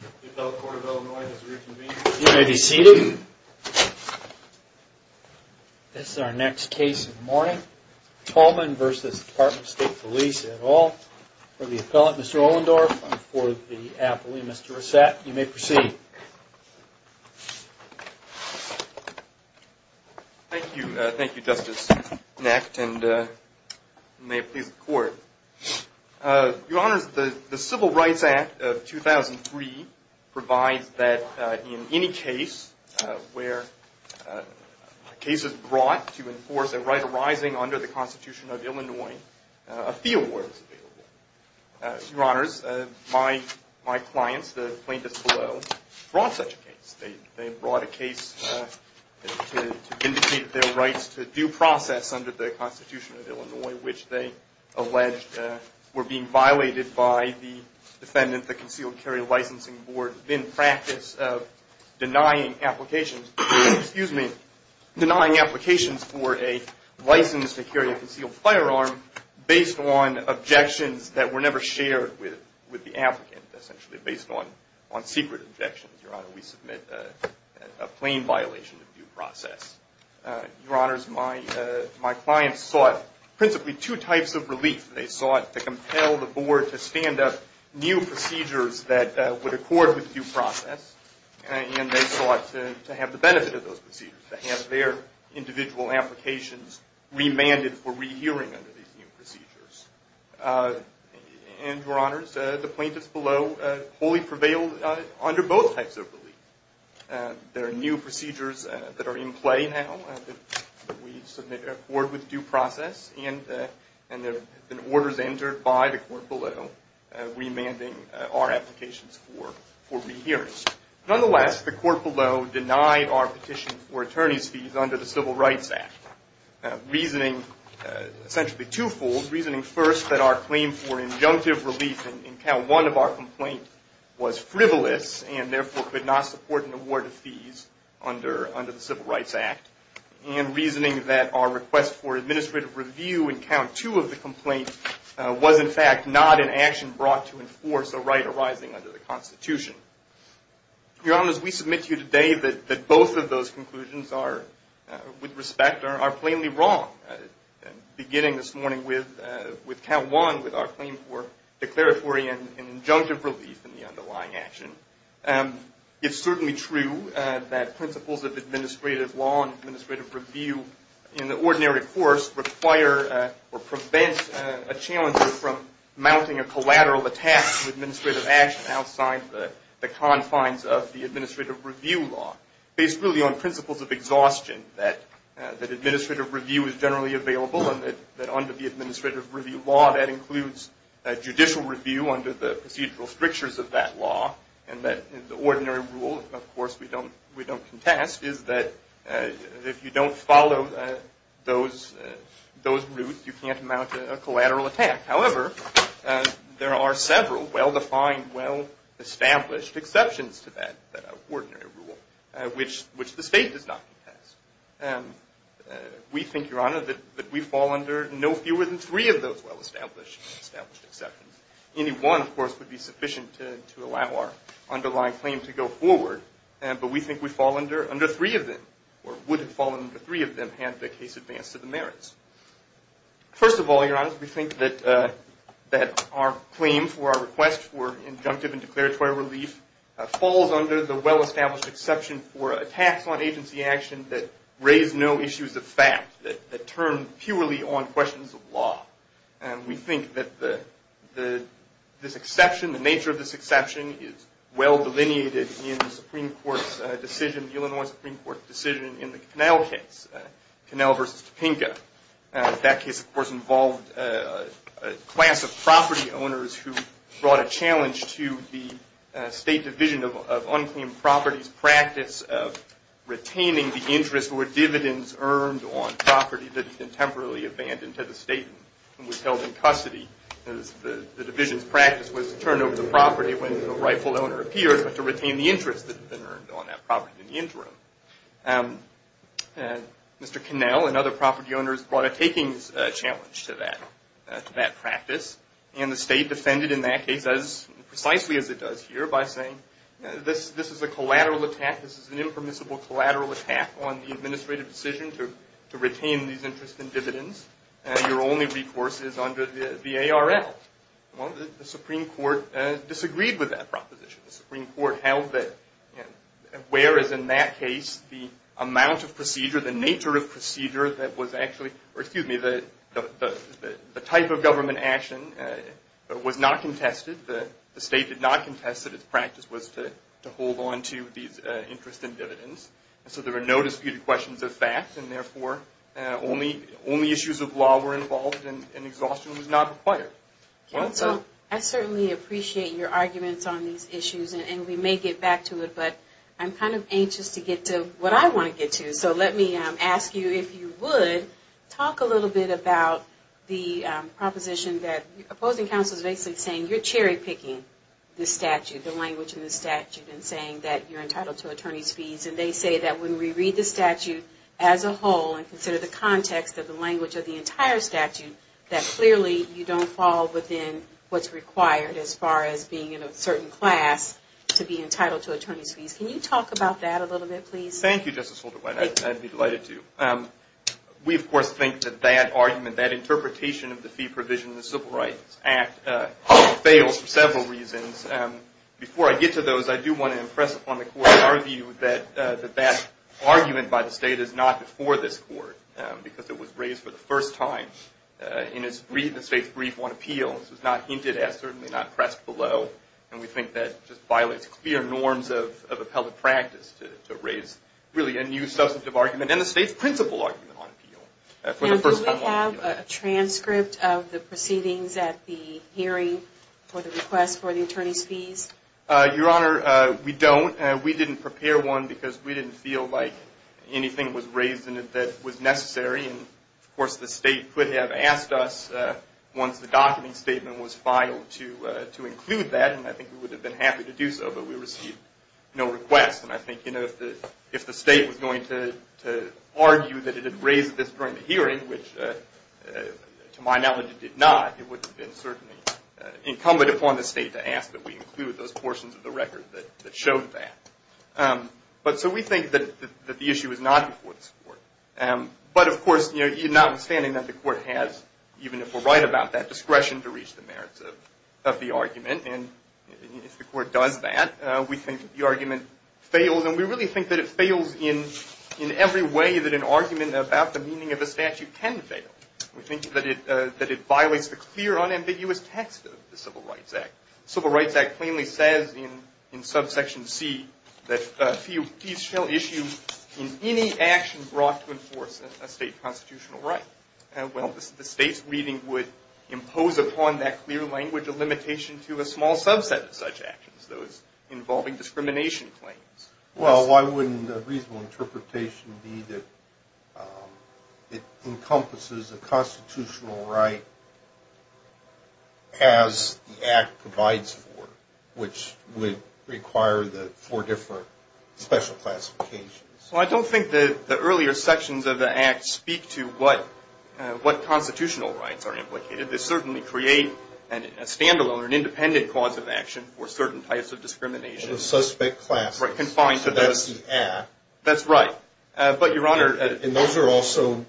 The appellate court of Illinois has reconvened. You may be seated. This is our next case of the morning. Tolman v. Department of State Police et al. For the appellant, Mr. Ohlendorf. And for the appellee, Mr. Rossette. You may proceed. Thank you. Thank you, Justice Necht. And may it please the court. Your Honors, the Civil Rights Act of 2003 provides that in any case where a case is brought to enforce a right arising under the Constitution of Illinois, a fee award is available. Your Honors, my clients, the plaintiffs below, brought such a case. They brought a case to vindicate their rights to due process under the Constitution of Illinois, which they alleged were being violated by the defendant, the Concealed Carry Licensing Board, in practice of denying applications for a license to carry a concealed firearm based on objections that were never shared with the applicant. Essentially based on secret objections. Your Honor, we submit a plain violation of due process. Your Honors, my clients sought principally two types of relief. They sought to compel the board to stand up new procedures that would accord with due process. And they sought to have the benefit of those procedures, to have their individual applications remanded for rehearing under these new procedures. And Your Honors, the plaintiffs below wholly prevailed under both types of relief. There are new procedures that are in play now that we submit to accord with due process. And there have been orders entered by the court below remanding our applications for rehearing. Nonetheless, the court below denied our petition for attorney's fees under the Civil Rights Act. Reasoning essentially two-fold. Reasoning first that our claim for injunctive relief in Count 1 of our complaint was frivolous and therefore could not support an award of fees under the Civil Rights Act. And reasoning that our request for administrative review in Count 2 of the complaint was in fact not an action brought to enforce a right arising under the Constitution. Your Honors, we submit to you today that both of those conclusions are, with respect, are plainly wrong. Beginning this morning with Count 1 with our claim for declaratory and injunctive relief in the underlying action. It's certainly true that principles of administrative law and administrative review in the ordinary course require or prevent a challenger from mounting a collateral attack to administrative action outside the confines of the administrative review law. Based really on principles of exhaustion that administrative review is generally available and that under the administrative review law that includes judicial review under the procedural strictures of that law. And that the ordinary rule, of course, we don't contest, is that if you don't follow those roots, you can't mount a collateral attack. However, there are several well-defined, well-established exceptions to that ordinary rule, which the state does not contest. We think, Your Honor, that we fall under no fewer than three of those well-established exceptions. Any one, of course, would be sufficient to allow our underlying claim to go forward. But we think we fall under three of them, or would have fallen under three of them had the case advanced to the merits. First of all, Your Honors, we think that our claim for our request for injunctive and declaratory relief falls under the well-established exception for attacks on agency action that raise no issues of fact, that turn purely on questions of law. And we think that this exception, the nature of this exception, is well delineated in the Supreme Court's decision, the Illinois Supreme Court's decision in the Connell case, Connell v. Topenka. That case, of course, involved a class of property owners who brought a challenge to the State Division of Unclaimed Properties' practice of retaining the interest or dividends earned on property that had been temporarily abandoned to the state and was held in custody. The Division's practice was to turn over the property when the rightful owner appears, but to retain the interest that had been earned on that property in the interim. Mr. Connell and other property owners brought a takings challenge to that practice. And the state defended in that case, precisely as it does here, by saying this is a collateral attack, this is an impermissible collateral attack on the administrative decision to retain these interest and dividends. Your only recourse is under the ARL. Well, the Supreme Court disagreed with that proposition. The Supreme Court held that, whereas in that case, the amount of procedure, the nature of procedure that was actually, or excuse me, the type of government action was not contested. The state did not contest that its practice was to hold on to these interest and dividends. So there were no disputed questions of fact and therefore only issues of law were involved and exhaustion was not required. Counsel, I certainly appreciate your arguments on these issues and we may get back to it, but I'm kind of anxious to get to what I want to get to. So let me ask you, if you would, talk a little bit about the proposition that opposing counsel is basically saying you're cherry picking the statute, the language in the statute, and saying that you're entitled to attorney's fees. And they say that when we read the statute as a whole and consider the context of the language of the entire statute, that clearly you don't fall within what's required as far as being in a certain class to be entitled to attorney's fees. Can you talk about that a little bit, please? Thank you, Justice Holderwine. I'd be delighted to. We, of course, think that that argument, that interpretation of the fee provision in the Civil Rights Act fails for several reasons. Before I get to those, I do want to impress upon the Court our view that that argument by the state is not before this Court because it was raised for the first time in the state's brief on appeals. It was not hinted at, certainly not pressed below, and we think that just violates clear norms of appellate practice to raise really a new substantive argument and the state's principal argument on appeal. Now, do we have a transcript of the proceedings at the hearing for the request for the attorney's fees? Your Honor, we don't. We didn't prepare one because we didn't feel like anything was raised in it that was necessary. Of course, the state could have asked us once the document statement was filed to include that, and I think we would have been happy to do so, but we received no request. And I think if the state was going to argue that it had raised this during the hearing, which to my knowledge it did not, it would have been certainly incumbent upon the state to ask that we include those portions of the record that showed that. So we think that the issue is not before this Court. But, of course, notwithstanding that the Court has, even if we're right about that, discretion to reach the merits of the argument, and if the Court does that, we think the argument fails. And we really think that it fails in every way that an argument about the meaning of a statute can fail. We think that it violates the clear, unambiguous text of the Civil Rights Act. The Civil Rights Act plainly says in subsection C that fees shall issue in any action brought to enforce a state constitutional right. Well, the state's reading would impose upon that clear language a limitation to a small subset of such actions, those involving discrimination claims. Well, why wouldn't a reasonable interpretation be that it encompasses a constitutional right as the Act provides for, which would require the four different special classifications? Well, I don't think that the earlier sections of the Act speak to what constitutional rights are implicated. They certainly create a standalone or an independent cause of action for certain types of discrimination. The suspect classes. Right, confined to those. So that's the Act. That's right. But, Your Honor, And those are also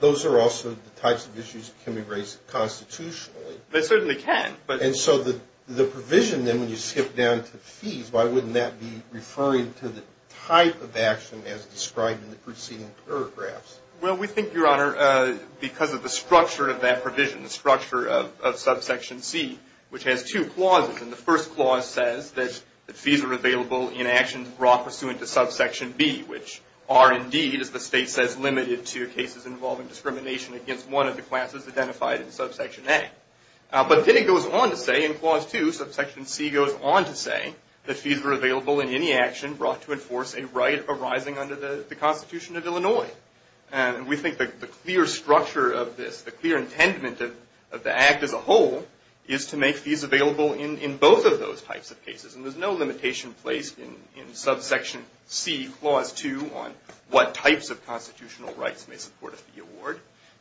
the types of issues that can be raised constitutionally. They certainly can. And so the provision, then, when you skip down to fees, why wouldn't that be referring to the type of action as described in the preceding paragraphs? Well, we think, Your Honor, because of the structure of that provision, the structure of subsection C, which has two clauses, and the first clause says that fees are available in actions brought pursuant to subsection B, which are indeed, as the state says, limited to cases involving discrimination against one of the classes identified in subsection A. But then it goes on to say in clause 2, subsection C goes on to say that fees are available in any action brought to enforce a right arising under the Constitution of Illinois. And we think the clear structure of this, the clear intent of the Act as a whole, is to make fees available in both of those types of cases. And there's no limitation placed in subsection C, clause 2, on what types of constitutional rights may support a fee award.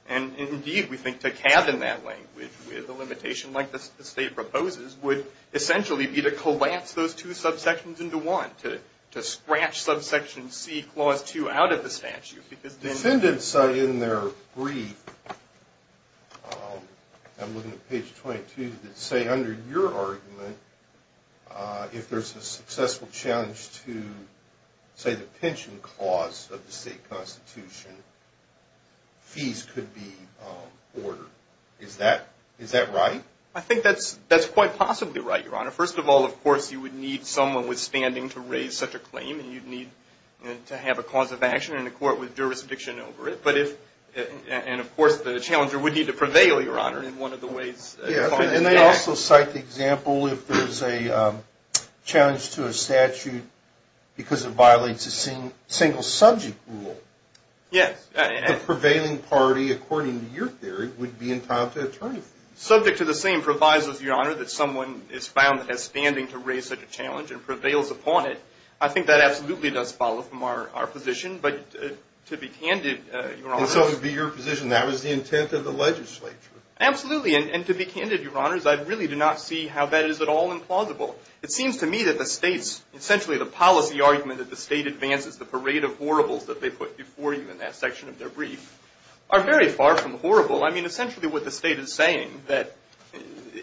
And indeed, we think to cabin that language with a limitation like the state proposes would essentially be to collapse those two subsections into one, to scratch subsection C, clause 2, out of the statute. Defendants in their brief, I'm looking at page 22, that say under your argument, if there's a successful challenge to, say, the pension clause of the state constitution, fees could be ordered. Is that right? I think that's quite possibly right, Your Honor. First of all, of course, you would need someone withstanding to raise such a claim. And you'd need to have a cause of action and a court with jurisdiction over it. And of course, the challenger would need to prevail, Your Honor, in one of the ways. And they also cite the example if there's a challenge to a statute because it violates a single subject rule. Yes. The prevailing party, according to your theory, would be entitled to attorney fees. Subject to the same provisos, Your Honor, that someone is found withstanding to raise such a challenge and prevails upon it, I think that absolutely does follow from our position. But to be candid, Your Honor. And so it would be your position that was the intent of the legislature. Absolutely. And to be candid, Your Honors, I really do not see how that is at all implausible. It seems to me that the states, essentially the policy argument that the state advances, the parade of horribles that they put before you in that section of their brief, are very far from horrible. I mean, essentially what the state is saying that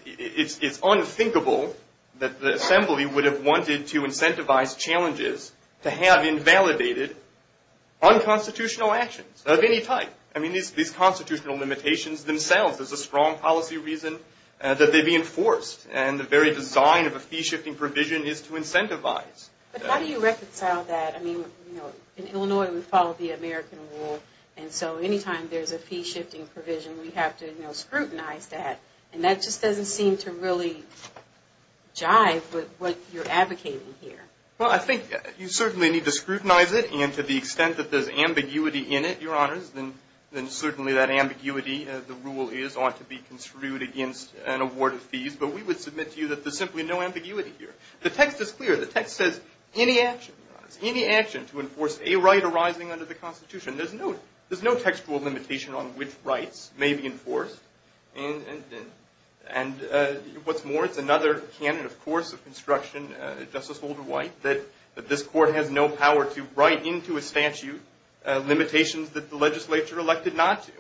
it's unthinkable that the Assembly would have wanted to incentivize challenges to have invalidated unconstitutional actions of any type. I mean, these constitutional limitations themselves, there's a strong policy reason that they be enforced. And the very design of a fee-shifting provision is to incentivize. But how do you reconcile that? I mean, you know, in Illinois, we follow the American rule. And so anytime there's a fee-shifting provision, we have to, you know, scrutinize that. And that just doesn't seem to really jive with what you're advocating here. Well, I think you certainly need to scrutinize it. And to the extent that there's ambiguity in it, Your Honors, then certainly that ambiguity, the rule is, ought to be construed against an award of fees. But we would submit to you that there's simply no ambiguity here. The text is clear. The text says any action, Your Honors, any action to enforce a right arising under the Constitution, there's no textual limitation on which rights may be enforced. And what's more, it's another canon, of course, of construction, Justice Holder White, that this Court has no power to write into a statute limitations that the legislature elected not to.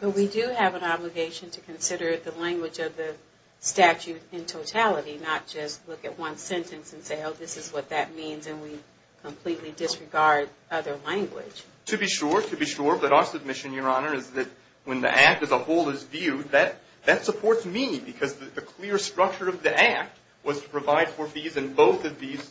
But we do have an obligation to consider the language of the statute in totality, not just look at one sentence and say, oh, this is what that means, and we completely disregard other language. To be sure, to be sure. But our submission, Your Honor, is that when the Act as a whole is viewed, that supports me because the clear structure of the Act was to provide for fees in both of these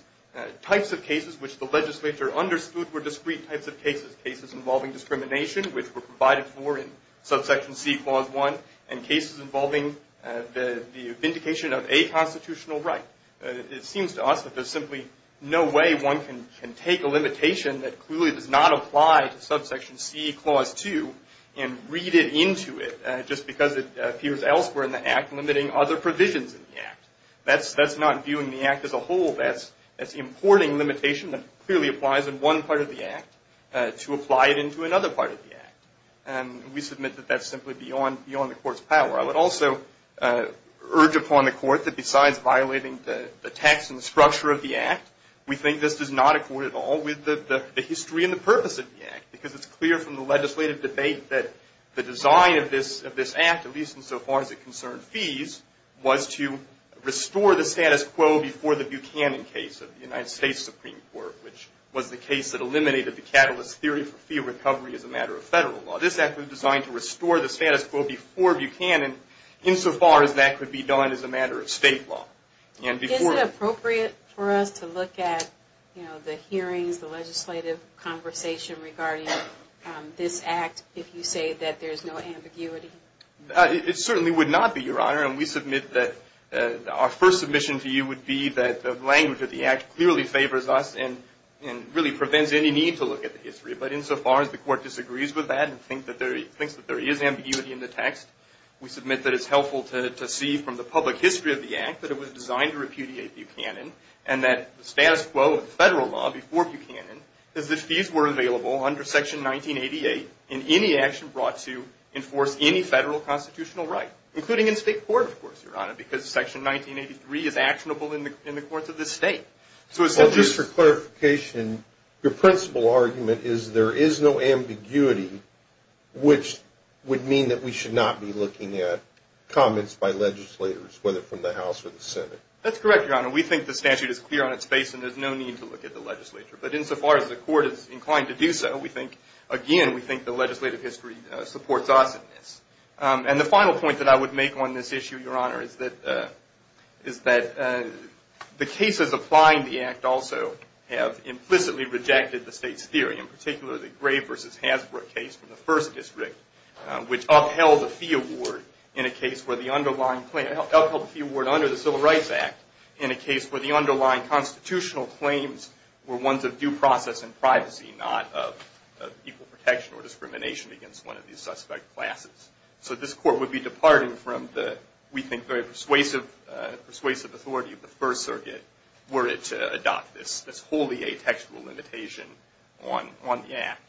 types of cases which the legislature understood were discrete types of cases, cases involving discrimination, which were provided for in Subsection C, Clause 1, and cases involving the vindication of a constitutional right. It seems to us that there's simply no way one can take a limitation that clearly does not apply to Subsection C, Clause 2, and read it into it just because it appears elsewhere in the Act limiting other provisions in the Act. That's not viewing the Act as a whole. That's importing limitation that clearly applies in one part of the Act to apply it into another part of the Act. And we submit that that's simply beyond the Court's power. I would also urge upon the Court that besides violating the text and structure of the Act, we think this does not accord at all with the history and the purpose of the Act because it's clear from the legislative debate that the design of this Act, at least insofar as it concerned fees, was to restore the status quo before the Buchanan case of the United States Supreme Court, which was the case that eliminated the catalyst theory for fee recovery as a matter of federal law. This Act was designed to restore the status quo before Buchanan, insofar as that could be done as a matter of state law. Is it appropriate for us to look at the hearings, the legislative conversation regarding this Act, if you say that there's no ambiguity? It certainly would not be, Your Honor. And we submit that our first submission to you would be that the language of the Act clearly favors us and really prevents any need to look at the history. But insofar as the Court disagrees with that and thinks that there is ambiguity in the text, we submit that it's helpful to see from the public history of the Act that it was designed to repudiate Buchanan and that the status quo of federal law before Buchanan is that fees were available under Section 1988 in any action brought to enforce any federal constitutional right, including in state court, of course, Your Honor, because Section 1983 is actionable in the courts of the state. Well, just for clarification, your principal argument is there is no ambiguity, which would mean that we should not be looking at comments by legislators, whether from the House or the Senate. That's correct, Your Honor. We think the statute is clear on its face and there's no need to look at the legislature. But insofar as the Court is inclined to do so, we think, again, we think the legislative history supports us in this. And the final point that I would make on this issue, Your Honor, is that the cases applying the Act also have implicitly rejected the state's theory, in particular the Gray v. Hasbro case from the 1st District, which upheld the fee award under the Civil Rights Act in a case where the underlying constitutional claims were ones of due process and privacy, not of equal protection or discrimination against one of these suspect classes. So this Court would be departing from the, we think, very persuasive authority of the First Circuit were it to adopt this wholly atextual limitation on the Act.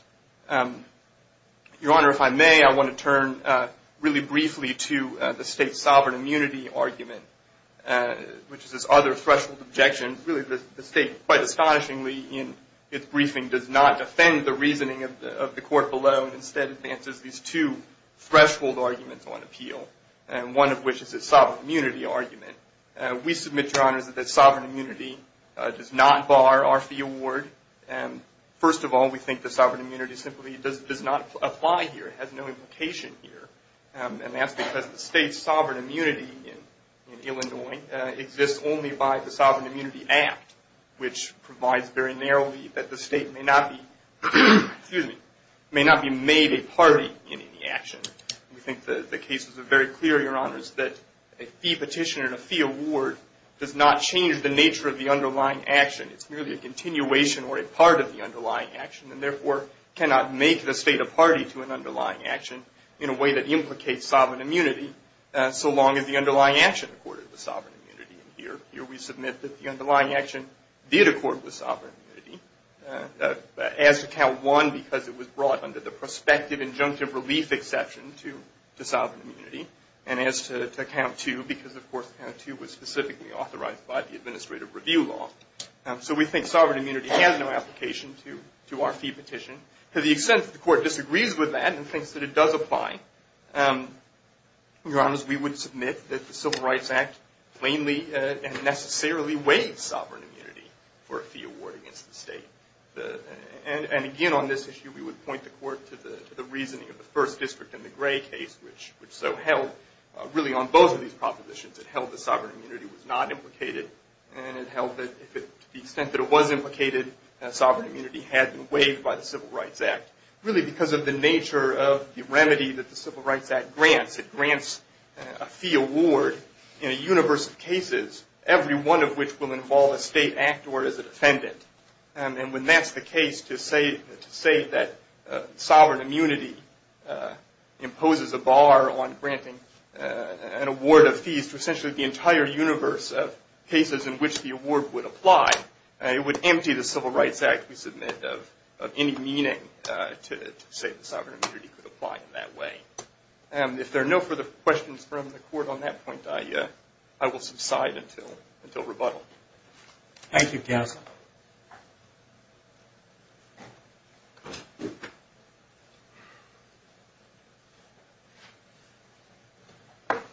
Your Honor, if I may, I want to turn really briefly to the state's sovereign immunity argument, which is this other threshold objection. Really, the state, quite astonishingly in its briefing, does not defend the reasoning of the Court below and instead advances these two threshold arguments on appeal, one of which is its sovereign immunity argument. We submit, Your Honor, that sovereign immunity does not bar our fee award. First of all, we think the sovereign immunity simply does not apply here. It has no implication here. And that's because the state's sovereign immunity in Illinois exists only by the Sovereign Immunity Act, which provides very narrowly that the state may not be made a party in any action. We think the cases are very clear, Your Honors, that a fee petition and a fee award does not change the nature of the underlying action. It's merely a continuation or a part of the underlying action and therefore cannot make the state a party to an underlying action in a way that implicates sovereign immunity so long as the underlying action accorded the sovereign immunity. And here we submit that the underlying action did accord the sovereign immunity as to Count 1 because it was brought under the prospective injunctive relief exception to sovereign immunity and as to Count 2 because, of course, Count 2 was specifically authorized by the administrative review law. So we think sovereign immunity has no application to our fee petition. To the extent that the Court disagrees with that and thinks that it does apply, Your Honors, we would submit that the Civil Rights Act plainly and necessarily waives sovereign immunity for a fee award against the state. And again, on this issue, we would point the Court to the reasoning of the First District and the Gray case, which so held really on both of these propositions. It held that sovereign immunity was not implicated, and it held that to the extent that it was implicated, sovereign immunity had been waived by the Civil Rights Act, really because of the nature of the remedy that the Civil Rights Act grants. It grants a fee award in a universe of cases, every one of which will involve a state actor as a defendant. And when that's the case, to say that sovereign immunity imposes a bar on granting an award of fees to essentially the entire universe of cases in which the award would apply, it would empty the Civil Rights Act, we submit, of any meaning to say that sovereign immunity could apply in that way. If there are no further questions from the Court on that point, I will subside until rebuttal. Thank you, Counsel.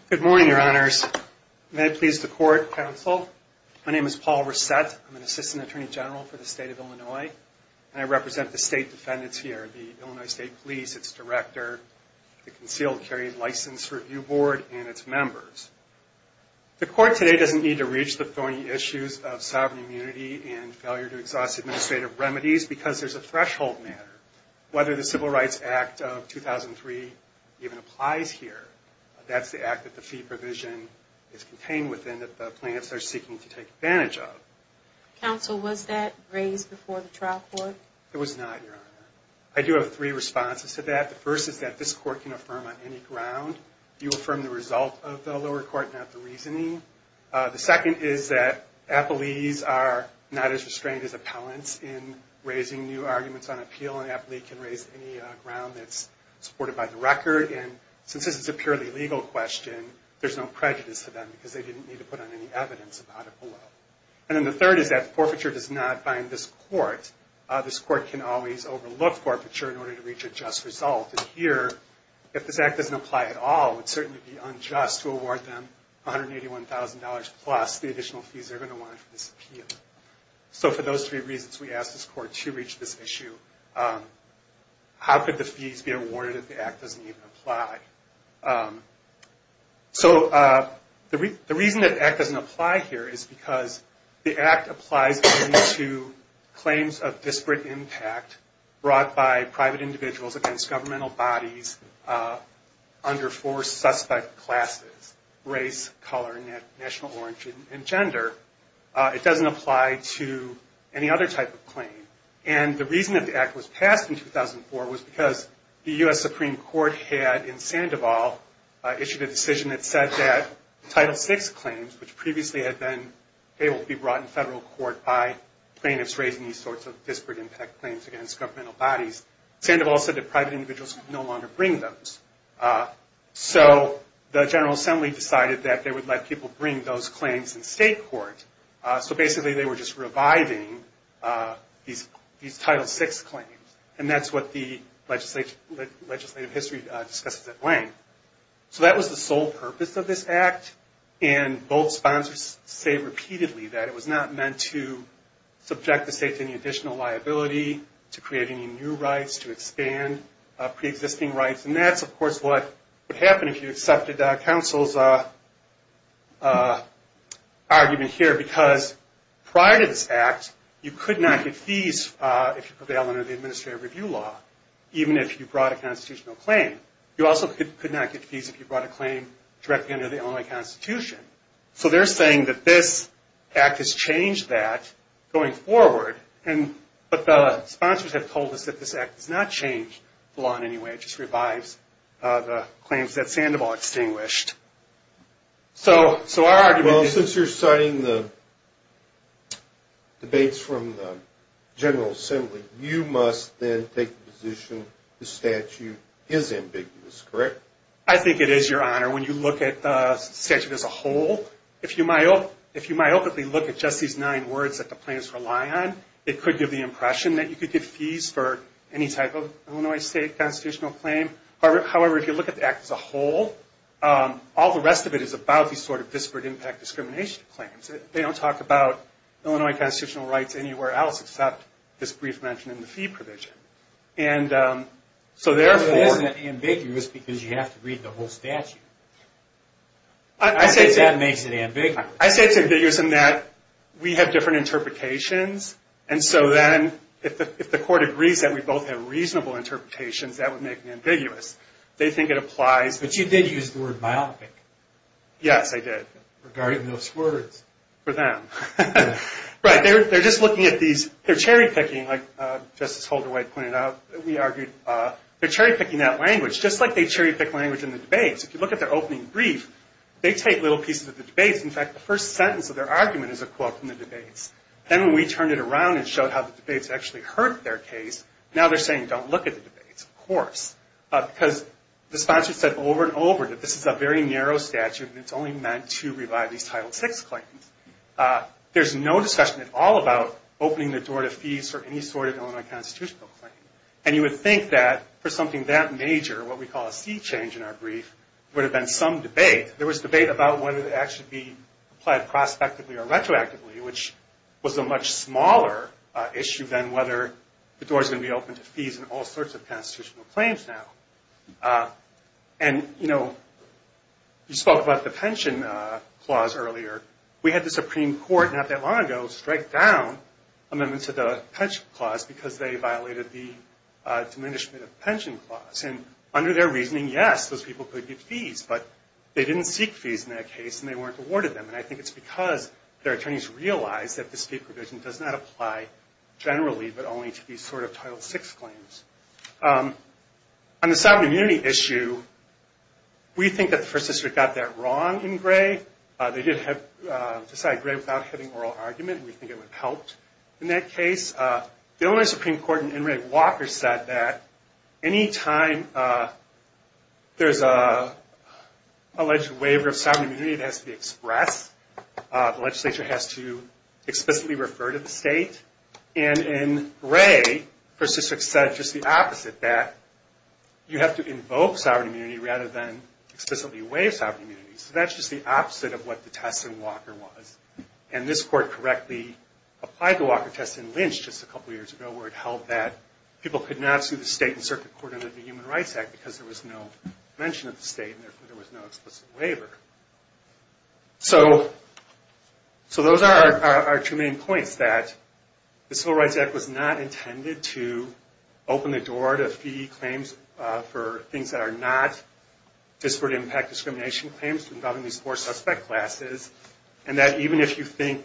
Good morning, Your Honors. May it please the Court, Counsel. My name is Paul Resett. I'm an Assistant Attorney General for the State of Illinois, and I represent the State Defendants here, the Illinois State Police, its Director, the Concealed Carry License Review Board, and its members. The Court today doesn't need to reach the thorny issues of sovereign immunity and sovereign immunity. administrative remedies because there's a threshold matter. Whether the Civil Rights Act of 2003 even applies here, that's the act that the fee provision is contained within that the plaintiffs are seeking to take advantage of. Counsel, was that raised before the trial court? It was not, Your Honor. I do have three responses to that. The first is that this Court can affirm on any ground. You affirm the result of the lower court, not the reasoning. The second is that appellees are not as restrained as appellants in raising new arguments on appeal, and an appellee can raise any ground that's supported by the record. And since this is a purely legal question, there's no prejudice to them because they didn't need to put on any evidence about it below. And then the third is that the forfeiture does not bind this Court. This Court can always overlook forfeiture in order to reach a just result. And here, if this act doesn't apply at all, it would certainly be unjust to award them $181,000 plus the additional fees they're going to want for this appeal. So for those three reasons, we ask this Court to reach this issue. How could the fees be awarded if the act doesn't even apply? So the reason that the act doesn't apply here is because the act applies only to claims of disparate impact brought by private individuals against governmental bodies under four suspect classes, race, color, national origin, and gender. It doesn't apply to any other type of claim. And the reason that the act was passed in 2004 was because the U.S. Supreme Court had, in Sandoval, issued a decision that said that Title VI claims, which previously had been able to be brought in federal court by plaintiffs raising these sorts of disparate impact claims against governmental bodies, Sandoval said that private individuals could no longer bring those. So the General Assembly decided that they would let people bring those claims in state court. So basically they were just reviving these Title VI claims. And that's what the legislative history discusses at length. So that was the sole purpose of this act. And both sponsors say repeatedly that it was not meant to subject the state to any additional liability, to create any new rights, to expand preexisting rights. And that's, of course, what would happen if you accepted counsel's argument here. Because prior to this act, you could not get fees if you prevailed under the administrative review law, even if you brought a constitutional claim. You also could not get fees if you brought a claim directly under the Illinois Constitution. So they're saying that this act has changed that going forward. But the sponsors have told us that this act does not change the law in any way. It just revives the claims that Sandoval extinguished. So our argument is... I think it is, Your Honor. When you look at the statute as a whole, if you myopically look at just these nine words that the claims rely on, it could give the impression that you could get fees for any type of Illinois state constitutional claim. However, if you look at the act as a whole, all the rest of it is about these sort of disparate impact discrimination claims. They don't talk about Illinois constitutional rights anywhere else except this brief mention in the fee provision. So therefore... But isn't it ambiguous because you have to read the whole statute? I think that makes it ambiguous. I say it's ambiguous in that we have different interpretations, and so then if the court agrees that we both have reasonable interpretations, that would make it ambiguous. They think it applies... But you did use the word myopic. Yes, I did. Regarding those words. For them. Right. They're just looking at these... They're cherry-picking, like Justice Holder-White pointed out. We argued they're cherry-picking that language, just like they cherry-pick language in the debates. If you look at their opening brief, they take little pieces of the debates. In fact, the first sentence of their argument is a quote from the debates. Then when we turned it around and showed how the debates actually hurt their case, now they're saying don't look at the debates. Of course. Because the sponsor said over and over that this is a very narrow statute, and it's only meant to revive these Title VI claims. There's no discussion at all about opening the door to fees for any sort of Illinois constitutional claim. And you would think that for something that major, what we call a sea change in our brief, there would have been some debate. There was debate about whether it would actually be applied prospectively or retroactively, which was a much smaller issue than whether the door's going to be open to fees in all sorts of constitutional claims now. And, you know, you spoke about the pension clause earlier. We had the Supreme Court not that long ago strike down amendments to the pension clause because they violated the Diminishment of Pension Clause. And under their reasoning, yes, those people could get fees. But they didn't seek fees in that case, and they weren't awarded them. And I think it's because their attorneys realized that the state provision does not apply generally, but only to these sort of Title VI claims. On the sovereign immunity issue, we think that the First District got that wrong in Gray. They did decide Gray without having oral argument, and we think it would have helped in that case. The Illinois Supreme Court in N. Ray Walker said that any time there's an alleged waiver of sovereign immunity, it has to be expressed. And in Gray, First District said just the opposite, that you have to invoke sovereign immunity rather than explicitly waive sovereign immunity. So that's just the opposite of what the test in Walker was. And this court correctly applied the Walker test in Lynch just a couple years ago where it held that people could not sue the state and circuit court under the Human Rights Act because there was no mention of the state and there was no explicit waiver. So those are our two main points, that the Civil Rights Act was not intended to open the door to fee claims for things that are not disparate impact discrimination claims involving these four suspect classes, and that even if you think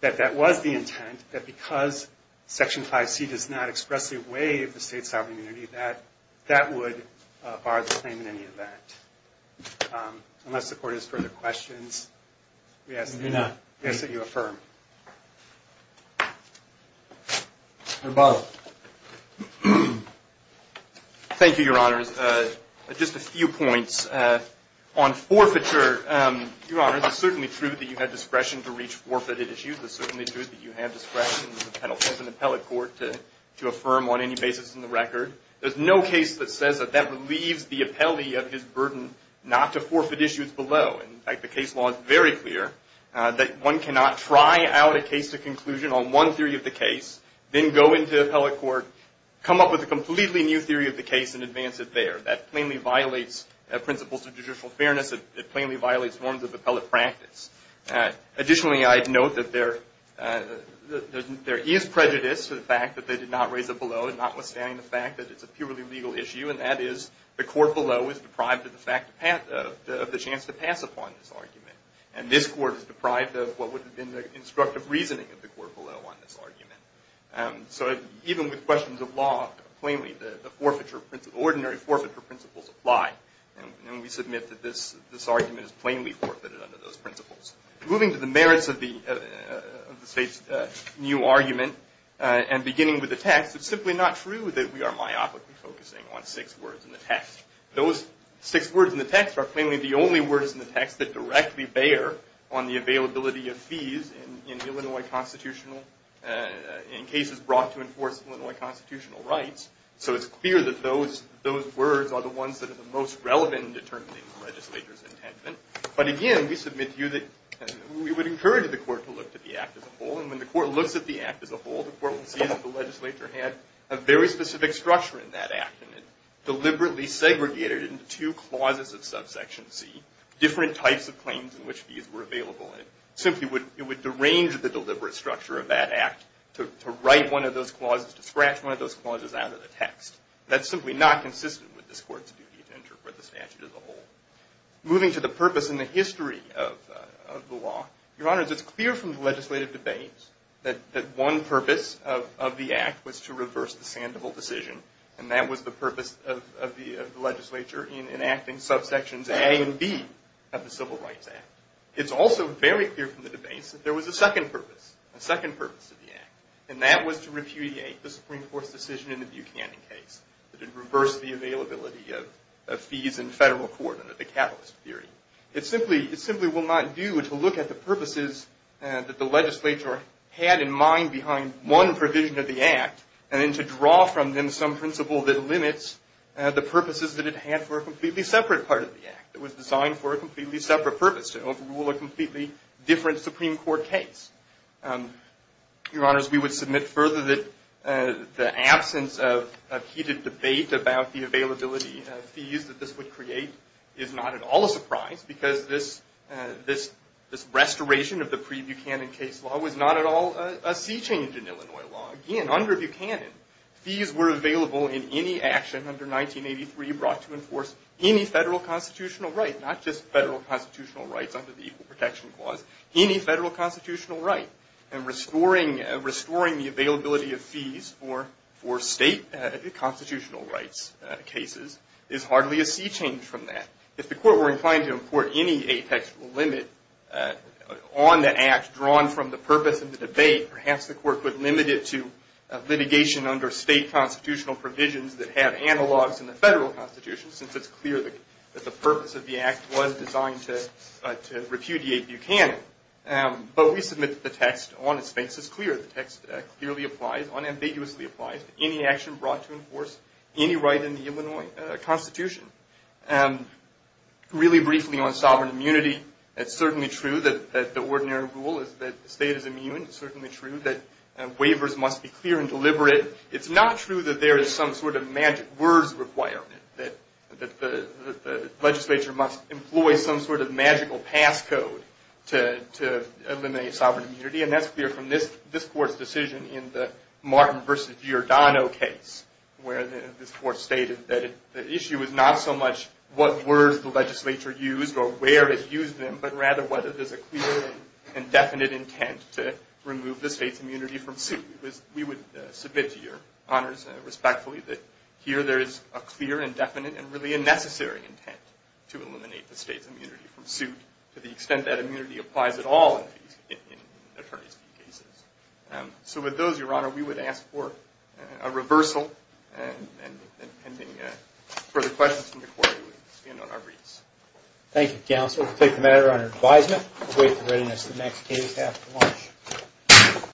that that was the intent, that because Section 5C does not expressly waive the state's sovereign immunity, that that would bar the claim in any event. Unless the court has further questions, we ask that you affirm. Thank you, Your Honors. Just a few points. On forfeiture, Your Honors, it's certainly true that you have discretion to reach forfeited issues. It's certainly true that you have discretion as an appellate court to affirm on any basis in the record. There's no case that says that that relieves the appellee of his burden not to forfeit issues below. In fact, the case law is very clear that one cannot try out a case to conclusion on one theory of the case, then go into the appellate court, come up with a completely new theory of the case, and advance it there. That plainly violates principles of judicial fairness. It plainly violates forms of appellate practice. Additionally, I'd note that there is prejudice to the fact that they did not raise it below, notwithstanding the fact that it's a purely legal issue, and that is, the court below is deprived of the chance to pass upon this argument. And this court is deprived of what would have been the instructive reasoning of the court below on this argument. So even with questions of law, plainly, the ordinary forfeiture principles apply. And we submit that this argument is plainly forfeited under those principles. Moving to the merits of the state's new argument, and beginning with the text, it's simply not true that we are myopically focusing on six words in the text. Those six words in the text are plainly the only words in the text that directly bear on the availability of fees in Illinois constitutional, in cases brought to enforce Illinois constitutional rights. So it's clear that those words are the ones that are the most relevant in determining the legislator's intent. But again, we submit to you that we would encourage the court to look at the act as a whole. And when the court looks at the act as a whole, the court will see that the legislature had a very specific structure in that act. And it deliberately segregated it into two clauses of subsection C, different types of claims in which fees were available. And it simply would derange the deliberate structure of that act to write one of those clauses, to scratch one of those clauses out of the text. That's simply not consistent with this court's duty to interpret the statute as a whole. Moving to the purpose and the history of the law. Your Honor, it's clear from the legislative debates that one purpose of the act was to reverse the Sandoval decision. And that was the purpose of the legislature in enacting subsections A and B of the Civil Rights Act. It's also very clear from the debates that there was a second purpose, a second purpose of the act. And that was to repudiate the Supreme Court's decision in the Buchanan case. That it reversed the availability of fees in federal court under the catalyst theory. It simply will not do to look at the purposes that the legislature had in mind behind one provision of the act and then to draw from them some principle that limits the purposes that it had for a completely separate part of the act. It was designed for a completely separate purpose, to overrule a completely different Supreme Court case. Your Honors, we would submit further that the absence of heated debate about the availability of fees that this would create is not at all a surprise because this restoration of the pre-Buchanan case law was not at all a sea change in Illinois law. Again, under Buchanan, fees were available in any action under 1983 brought to enforce any federal constitutional right. Not just federal constitutional rights under the Equal Protection Clause, any federal constitutional right. And restoring the availability of fees for state constitutional rights cases is hardly a sea change from that. If the court were inclined to import any apex limit on the act drawn from the purpose of the debate, perhaps the court would limit it to litigation under state constitutional provisions that have analogs in the federal constitution since it's clear that the purpose of the act was designed to repudiate Buchanan. But we submit that the text on its face is clear. The text clearly applies, unambiguously applies to any action brought to enforce any right in the Illinois Constitution. Really briefly on sovereign immunity, it's certainly true that the ordinary rule is that the state is immune. It's certainly true that waivers must be clear and deliberate. It's not true that there is some sort of magic words requirement, that the legislature must employ some sort of magical pass code to eliminate sovereign immunity. And that's clear from this court's decision in the Martin v. Giordano case, where this court stated that the issue is not so much what words the legislature used or where it used them, but rather whether there's a clear and definite intent to remove the state's immunity from suit. We would submit to your honors respectfully that here there is a clear and definite and really a necessary intent to eliminate the state's immunity from suit to the extent that immunity applies at all in attorney's fee cases. So with those, your honor, we would ask for a reversal. And pending further questions from the court, we will end on our briefs. Thank you, counsel. We'll take the matter under advisement and await the readiness of the next case after lunch.